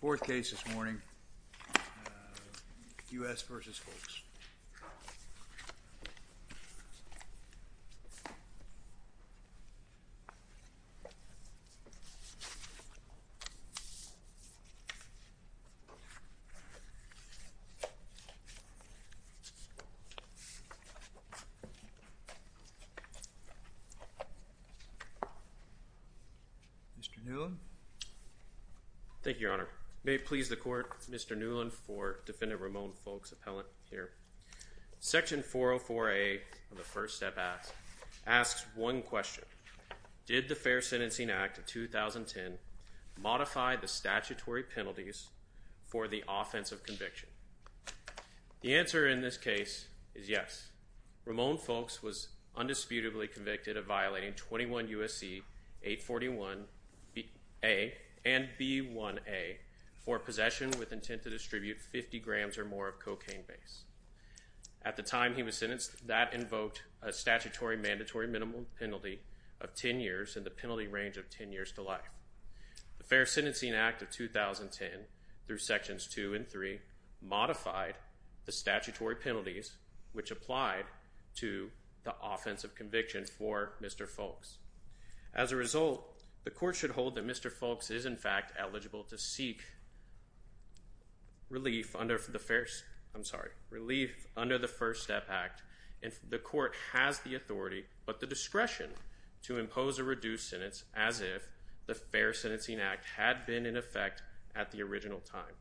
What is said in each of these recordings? Fourth case this morning, U.S. v. Foulks. Mr. Newland? Thank you, Your Honor. May it please the Court. Section 404a of the First Step Act asks one question. Did the Fair Sentencing Act of 2010 modify the statutory penalties for the offense of conviction? The answer in this case is yes. Romond Foulks was undisputably convicted of violating 21 U.S.C. 841a and At the time he was sentenced, that invoked a statutory mandatory minimum penalty of 10 years and the penalty range of 10 years to life. The Fair Sentencing Act of 2010, through Sections 2 and 3, modified the statutory penalties which applied to the offense of conviction for Mr. Foulks. As a result, the Court should hold that Mr. Foulks is in fact eligible to under the First Step Act and the Court has the authority, but the discretion, to impose a reduced sentence as if the Fair Sentencing Act had been in effect at the original time.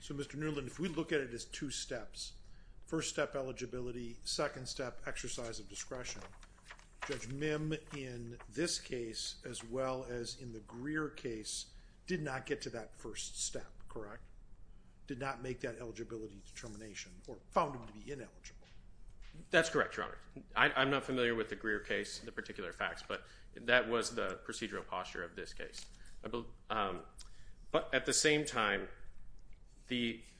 So Mr. Newland, if we look at it as two steps, first step eligibility, second step exercise of discretion, Judge Mim in this case, as well as in the Greer case, did not get to that first step, correct? Did not make that eligibility determination or found him to be ineligible? That's correct, Your Honor. I'm not familiar with the Greer case, the particular facts, but that was the procedural posture of this case. But at the same time,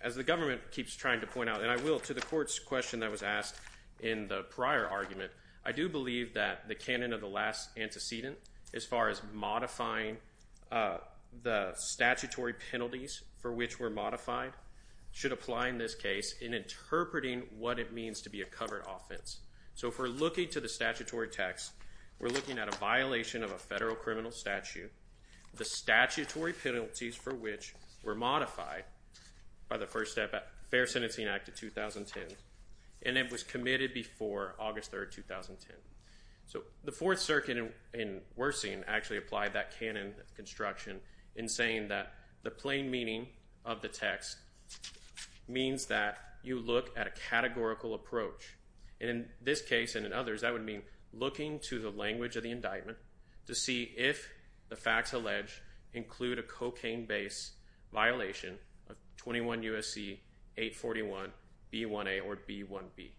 as the government keeps trying to point out, and I will, to the Court's question that was asked in the prior argument, I do believe that the canon of the last antecedent as far as modifying the statutory penalties for which were modified should apply in this case in interpreting what it means to be a covered offense. So if we're looking to the statutory text, we're looking at a violation of a federal criminal statute, the statutory penalties for which were modified by the First Step Fair Sentencing Act of 2010, and it was committed before August 3, 2010. So the Fourth Circuit in Wersing actually applied that canon construction in saying that the plain meaning of the text means that you look at a categorical approach. In this case and in others, that would mean looking to the language of the indictment to see if the facts alleged include a cocaine-based violation of 21 U.S.C. 841 B1A or B1B.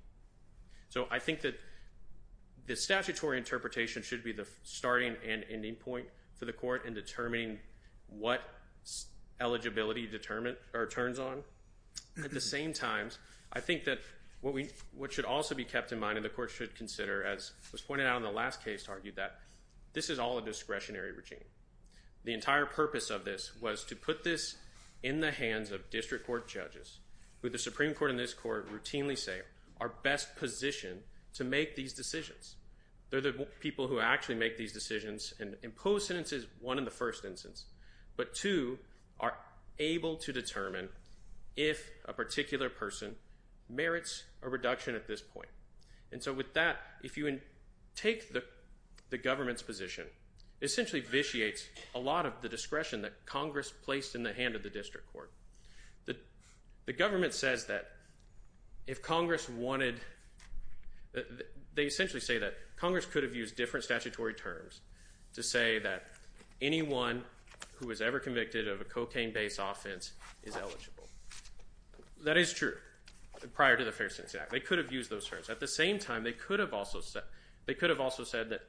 So I think that the statutory interpretation should be the starting and ending point for the Court in determining what eligibility turns on. At the same time, I think that what should also be kept in mind, and the Court should consider, as was pointed out in the last case, argued that this is all a discretionary regime. The entire purpose of this was to put this in the hands of district court judges, who the Supreme Court and this Court routinely say are best positioned to make these decisions. They're the people who actually make these decisions and impose sentences, one, in the first instance, but two, are able to determine if a particular person merits a reduction at this point. And so with that, if you take the government's position, it essentially vitiates a lot of the discretion that Congress placed in the hand of the district court. The government says that if Congress wanted – they essentially say that Congress could have used different statutory terms to say that anyone who was ever convicted of a cocaine-based offense is eligible. That is true, prior to the Fair Sentencing Act. They could have used those terms. At the same time, they could have also said that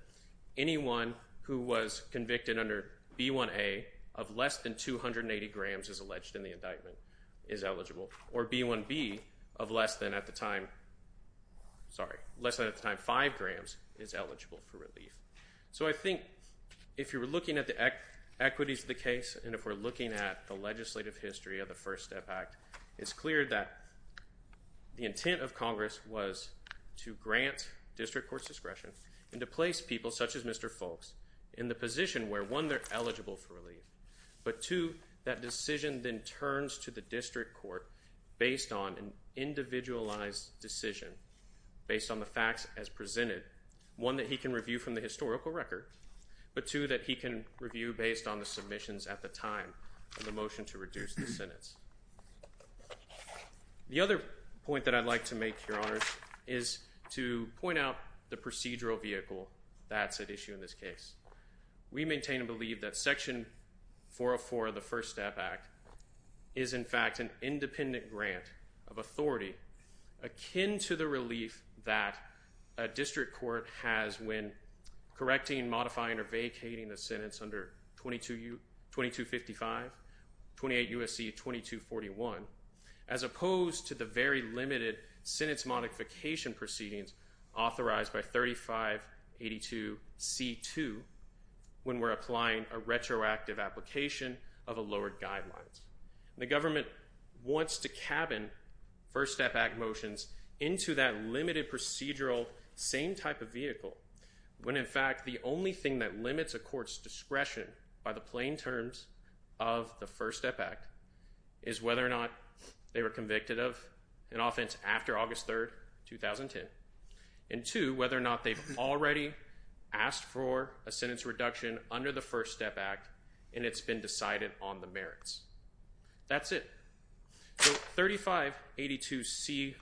anyone who was convicted under B1A of less than 280 grams as alleged in the indictment is eligible, or B1B of less than at the time – sorry, less than at the time 5 grams is eligible for relief. So I think if you were looking at the equities of the case and if we're looking at the legislative history of the First Step Act, it's clear that the intent of Congress was to grant district court's discretion and to place people such as Mr. Foulkes in the position where, one, they're eligible for relief, but two, that decision then turns to the district court based on an individualized decision, based on the facts as presented, one, that he can review from the historical record, but two, that he can review based on the submissions at the time of the motion to reduce the sentence. The other point that I'd like to make, Your Honors, is to point out the procedural vehicle that's at issue in this case. We maintain and believe that Section 404 of the First Step Act is, in fact, an independent grant of authority akin to the relief that a district court has when correcting, modifying, or vacating a sentence under 2255, 28 U.S.C. 2241, as opposed to the very limited sentence modification proceedings authorized by 3582C2 when we're following court guidelines. The government wants to cabin First Step Act motions into that limited procedural same type of vehicle when, in fact, the only thing that limits a court's discretion by the plain terms of the First Step Act is whether or not they were convicted of an offense after August 3rd, 2010, and two, whether or not they've already asked for a sentence reduction under the First Step Act and it's been decided on the merits. That's it. So 3582C1B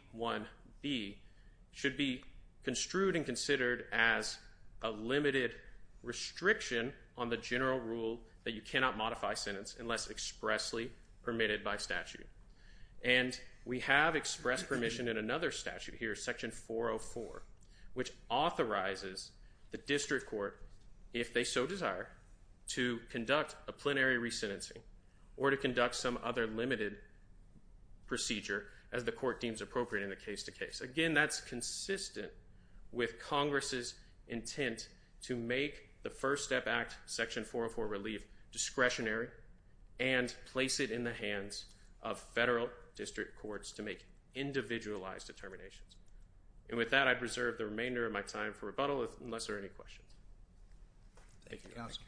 should be construed and considered as a limited restriction on the general rule that you cannot modify a sentence unless expressly permitted by statute. And we have expressed permission in another statute here, Section 404, which authorizes the district court, if they so desire, to conduct a plenary re-sentencing or to conduct some other limited procedure as the court deems appropriate in the case-to-case. Again, that's consistent with Congress's intent to make the First Step Act, Section 404 relief discretionary and place it in the hands of federal district courts to make individualized determinations. And with that, I preserve the remainder of my time for rebuttal unless there are any questions. Thank you, Counselor.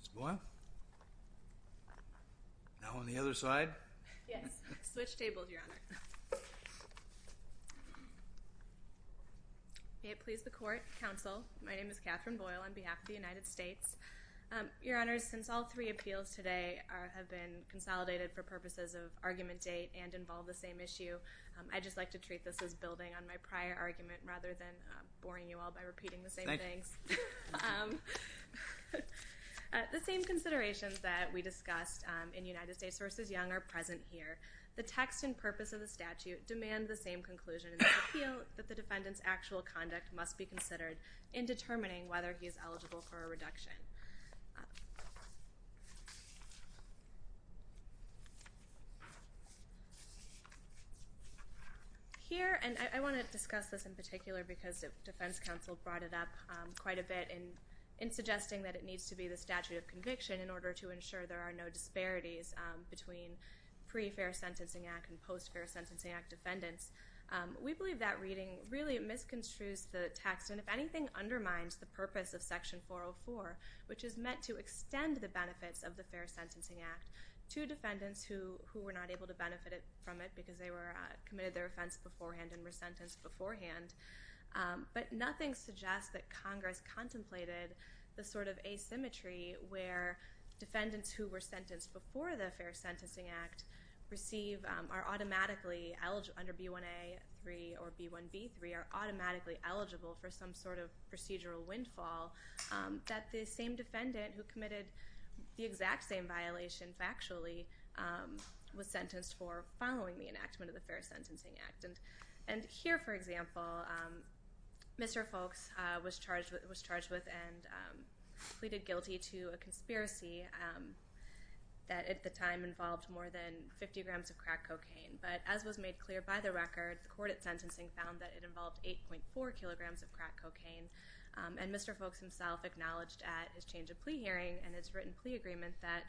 Ms. Boyle? Now on the other side? Yes. Switch tables, Your Honor. May it please the Court, Counsel. My name is Katherine Boyle on behalf of the United States. Your Honors, since all three appeals today have been consolidated for purposes of argument date and involve the same issue, I'd just like to treat this as building on my prior argument rather than boring you all by repeating the same things. The same considerations that we discussed in United States v. Young are present here. The text and purpose of the statute demand the same conclusion in the appeal that the defendant is liable for a reduction. Here, and I want to discuss this in particular because Defense Counsel brought it up quite a bit in suggesting that it needs to be the statute of conviction in order to ensure there are no disparities between pre-fair sentencing act and post-fair sentencing act defendants. We believe that reading really misconstrues the text and if anything undermines the purpose of Section 404, which is meant to extend the benefits of the Fair Sentencing Act to defendants who were not able to benefit from it because they committed their offense beforehand and were sentenced beforehand. But nothing suggests that Congress contemplated the sort of asymmetry where defendants who were sentenced before the Fair Sentencing Act receive, are automatically eligible under B1A3 or B1B3, are automatically eligible for some sort of procedural windfall that the same defendant who committed the exact same violation factually was sentenced for following the enactment of the Fair Sentencing Act. And here, for example, Mr. Folks was charged with and pleaded guilty to a conspiracy that at the time involved more than 50 grams of crack cocaine. But as was made clear by the record, the court at sentencing found that it involved 8.4 kilograms of crack cocaine. And Mr. Folks himself acknowledged at his change of plea hearing and his written plea agreement that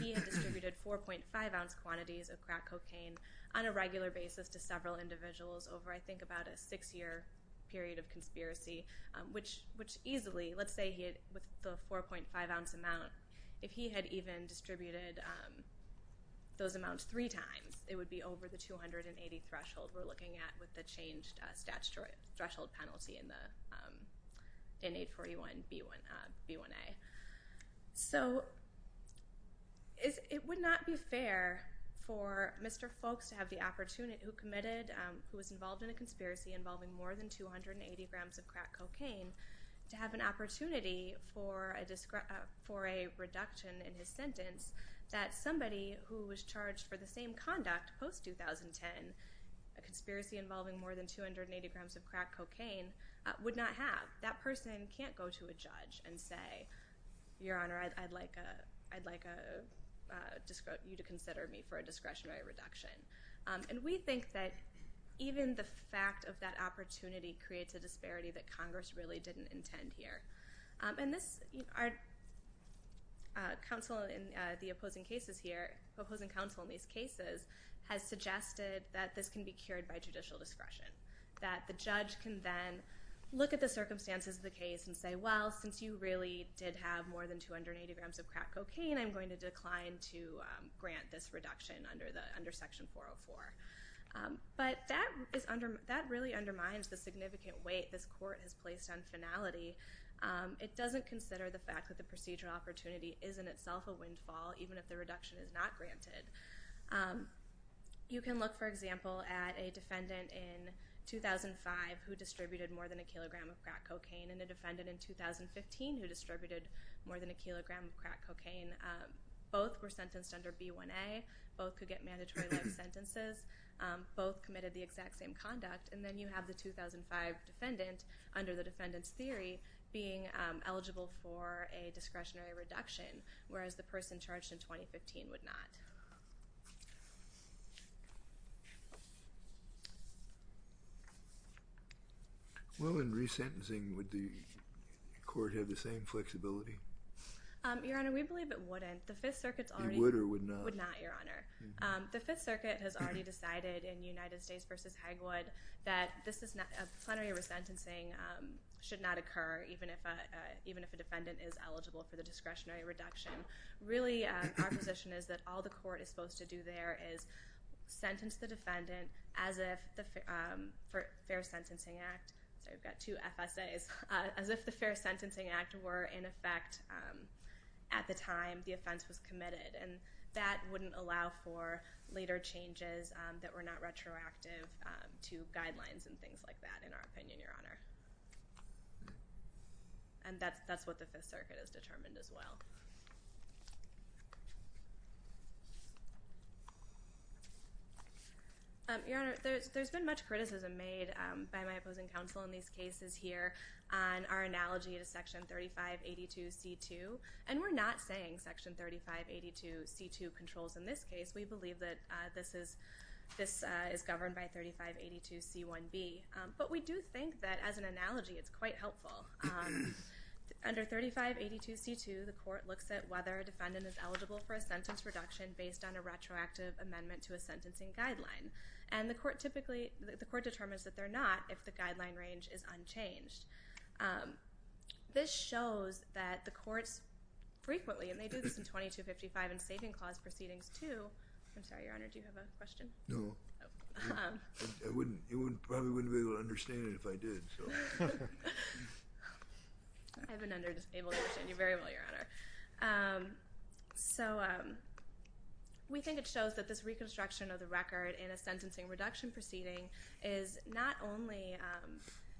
he had distributed 4.5 ounce quantities of crack cocaine on a regular basis to several individuals over I think about a six year period of conspiracy, which easily, let's say with the 4.5 ounce amount, if he had even distributed those amounts three times, it would be over the 280 threshold we're looking at with the changed statute threshold penalty in 841B1A. So it would not be fair for Mr. Folks who was involved in a conspiracy involving more than 280 grams of crack cocaine to have an opportunity for a reduction in his sentence that somebody who was charged for the same conduct post-2010, a conspiracy involving more than 280 grams of crack cocaine, would not have. That person can't go to a judge and say, Your Honor, I'd like you to consider me for a discretionary reduction. And we think that even the fact of that opportunity creates a disparity that Congress really didn't intend to have a reduction here. And the opposing counsel in these cases has suggested that this can be cured by judicial discretion, that the judge can then look at the circumstances of the case and say, Well, since you really did have more than 280 grams of crack cocaine, I'm going to decline to grant this reduction under Section 404. But that really undermines the significant weight this Court has placed on finality. It doesn't consider the fact that the procedural opportunity is in itself a windfall, even if the reduction is not granted. You can look, for example, at a defendant in 2005 who distributed more than a kilogram of crack cocaine and a defendant in 2015 who distributed more than a kilogram of crack cocaine. Both were sentenced under B1A. Both could get mandatory life sentences. Both committed the exact same conduct. And then you have the 2005 defendant under the defendant's theory being eligible for a discretionary reduction, whereas the person charged in 2015 would not. Well, in resentencing, would the Court have the same flexibility? Your Honor, we believe it wouldn't. The Fifth Circuit's already— It would or would not? It would not, Your Honor. The Fifth Circuit has already decided in United States v. Hagwood that a plenary resentencing should not occur, even if a defendant is eligible for the discretionary reduction. Really, our position is that all the Court is supposed to do there is sentence the defendant as if the Fair Sentencing Act—sorry, I've got two FSAs—as if the Fair Sentencing Act was committed. And that wouldn't allow for later changes that were not retroactive to guidelines and things like that, in our opinion, Your Honor. And that's what the Fifth Circuit has determined as well. Your Honor, there's been much criticism made by my opposing counsel in these cases here on our analogy to Section 3582c2. And we're not saying Section 3582c2 controls in this case. We believe that this is governed by 3582c1b. But we do think that, as an analogy, it's quite helpful. Under 3582c2, the Court looks at whether a defendant is eligible for a sentence reduction based on a retroactive amendment to a sentencing guideline. And the Court determines that they're not if the guideline range is unchanged. This shows that the Courts frequently—and they do this in 2255 and Saving Clause proceedings too—I'm sorry, Your Honor, do you have a question? No. Oh. I probably wouldn't be able to understand it if I did. I've been able to understand you very well, Your Honor. So we think it shows that this is not only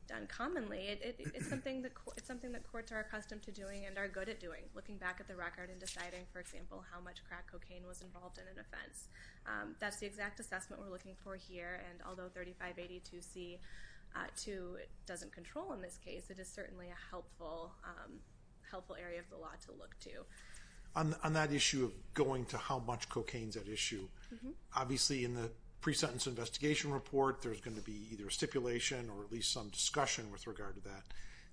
done commonly, it's something that Courts are accustomed to doing and are good at doing, looking back at the record and deciding, for example, how much crack cocaine was involved in an offense. That's the exact assessment we're looking for here. And although 3582c2 doesn't control in this case, it is certainly a helpful area of the law to look to. On that issue of going to how much cocaine is at issue, obviously in the pre-sentence investigation report there's going to be either stipulation or at least some discussion with regard to that.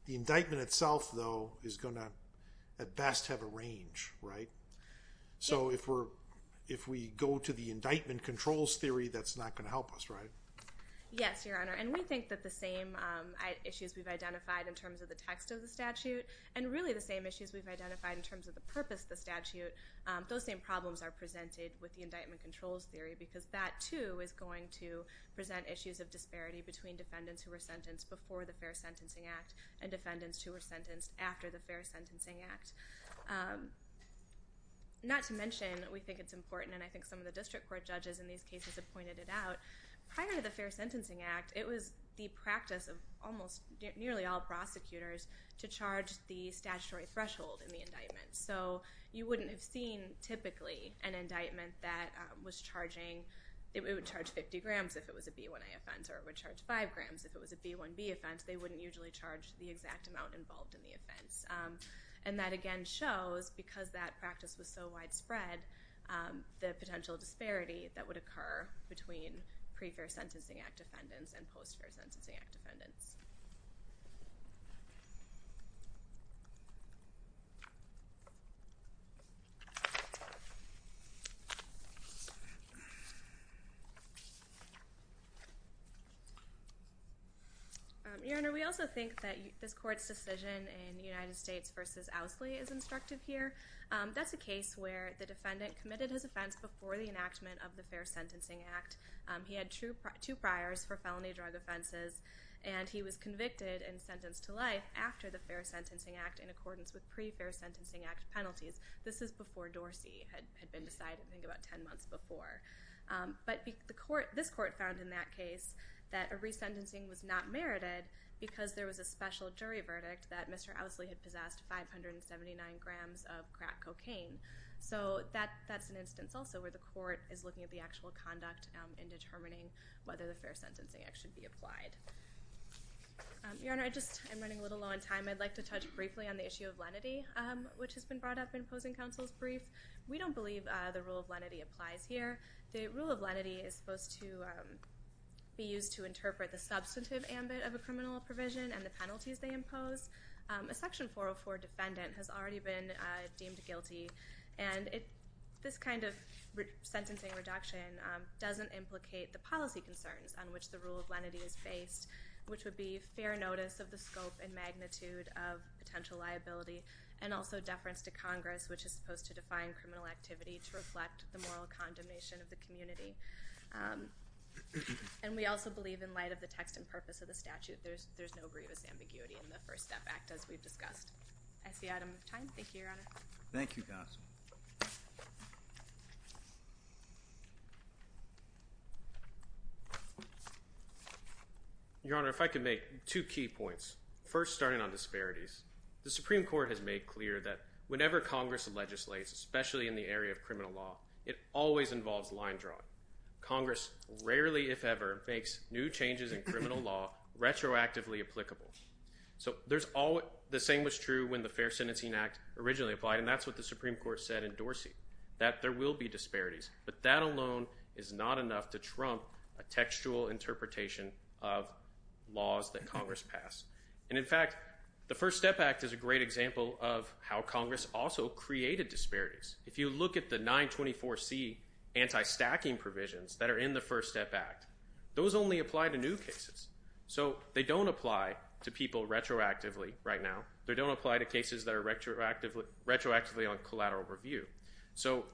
The indictment itself, though, is going to at best have a range, right? Yes. So if we go to the indictment controls theory, that's not going to help us, right? Yes, Your Honor. And we think that the same issues we've identified in terms of the text of the statute and really the same issues we've identified in terms of the purpose of the statute, those same problems are presented with the indictment controls theory because that, too, is going to present issues of disparity between defendants who were sentenced before the Fair Sentencing Act and defendants who were sentenced after the Fair Sentencing Act. Not to mention, we think it's important, and I think some of the district court judges in these cases have pointed it out, prior to the Fair Sentencing Act, it was the practice of almost nearly all prosecutors to charge the statutory threshold in the indictment. So you wouldn't have seen, typically, an indictment that was charging, it would charge 50 grams if it was a B1A offense or it would charge 5 grams if it was a B1B offense. They wouldn't usually charge the exact amount involved in the offense. And that, again, shows, because that practice was so widespread, the potential disparity that would occur between pre-Fair Sentencing Act defendants and post-Fair Sentencing Act defendants. Your Honor, we also think that this Court's decision in United States v. Ousley is instructive here. That's a case where the defendant committed his offense before the enactment of the Fair Sentencing Act. He had two priors for felony drug offenses and he was convicted and sentenced to life after the Fair Sentencing Act in accordance with pre-Fair Sentencing Act penalties. This is before Dorsey had been decided, I think about 10 months before. But this Court found in that case that a resentencing was not merited because there was a special jury verdict that Mr. Ousley had possessed 579 grams of crack cocaine. So that's an instance also where the Court is looking at the actual conduct in determining whether the Fair Sentencing Act should be applied. Your Honor, I'm running a little low on time. I'd like to touch briefly on the issue of lenity, which has been brought up in Posing Counsel's brief. We don't believe the rule of lenity applies here. The rule of lenity is supposed to be used to interpret the substantive ambit of a criminal provision and the penalties they impose. A Section 404 defendant has already been deemed guilty, and this kind of sentencing reduction doesn't implicate the policy concerns on which the rule of lenity is based, which would be fair notice of the scope and magnitude of potential liability, and also deference to Congress, which is supposed to define criminal activity to reflect the moral condemnation of the community. And we also believe in light of the text and purpose of the statute, there's no grievous ambiguity in the First Step Act, as we've discussed. I see I don't have time. Thank you, Your Honor. Thank you, Goss. Your Honor, if I could make two key points. First, starting on disparities. The Supreme Court has made clear that whenever Congress legislates, especially in the area of criminal law, it always involves line drawing. Congress rarely, if ever, makes new changes in criminal law retroactively applicable. So the same was true when the Fair Sentencing Act originally applied, and that's what the Supreme Court said in Dorsey, that there will be disparities. But that alone is not enough to trump a textual interpretation of laws that Congress passed. And in fact, the First Step Act is a great example of how Congress also created disparities. If you look at the 924C anti-stacking provisions that are in the First Step Act, those only apply to new cases. So they don't apply to people retroactively right now. They don't apply to cases that are retroactively on collateral review. So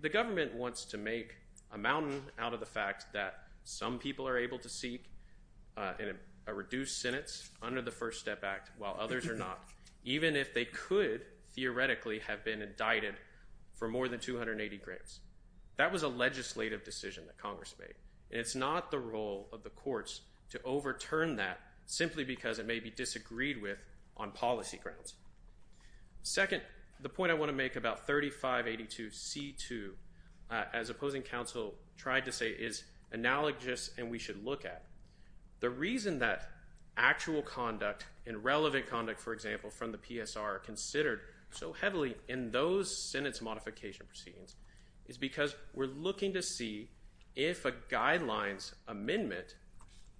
the government wants to make a mountain out of the fact that some people are able to seek a reduced sentence under the First Step Act while others are not, even if they could theoretically have been indicted for more than 280 grants. That was a legislative decision that Congress made. And it's not the role of the courts to overturn that simply because it may be disagreed with on policy grounds. Second, the point I want to make about 3582C2, as opposing counsel tried to say, is analogous and we should look at. The reason that actual conduct and relevant conduct, for example, from the PSR are considered so heavily in those sentence modification proceedings is because we're looking to see if a guidelines amendment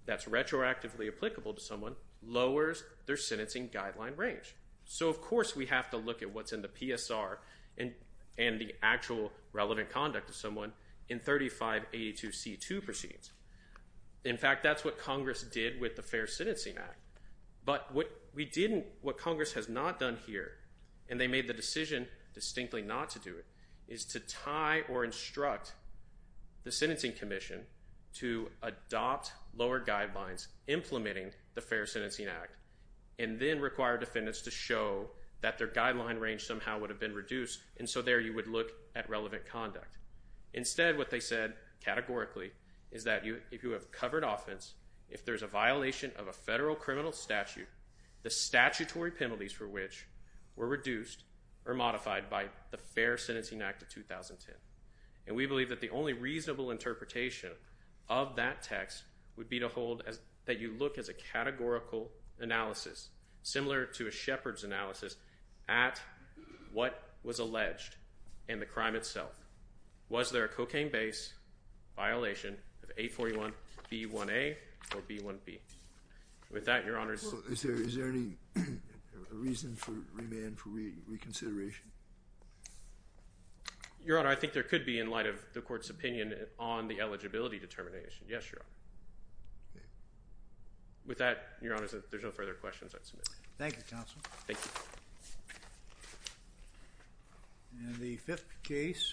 that's retroactively applicable to someone lowers their sentencing guideline range. So of course we have to look at what's in the PSR and the actual relevant conduct of someone in 3582C2 proceedings. In fact, that's what Congress did with the Fair Sentencing Act. But what Congress has not done here, and they made the decision distinctly not to do it, is to tie or instruct the Sentencing Commission to adopt lower guidelines implementing the required defendants to show that their guideline range somehow would have been reduced. And so there you would look at relevant conduct. Instead, what they said categorically is that if you have covered offense, if there's a violation of a federal criminal statute, the statutory penalties for which were reduced or modified by the Fair Sentencing Act of 2010. And we believe that the only reasonable interpretation of that text would be to hold that you look at a categorical analysis, similar to a Shepard's analysis, at what was alleged and the crime itself. Was there a cocaine-based violation of 841B1A or B1B? With that, Your Honor's... Is there any reason for remand for reconsideration? Your Honor, I think there could be in light of the Court's opinion on the eligibility determination. Yes, Your Honor. Okay. With that, Your Honor, there's no further questions I'd submit. Thank you, Counsel. Thank you. And the fifth case...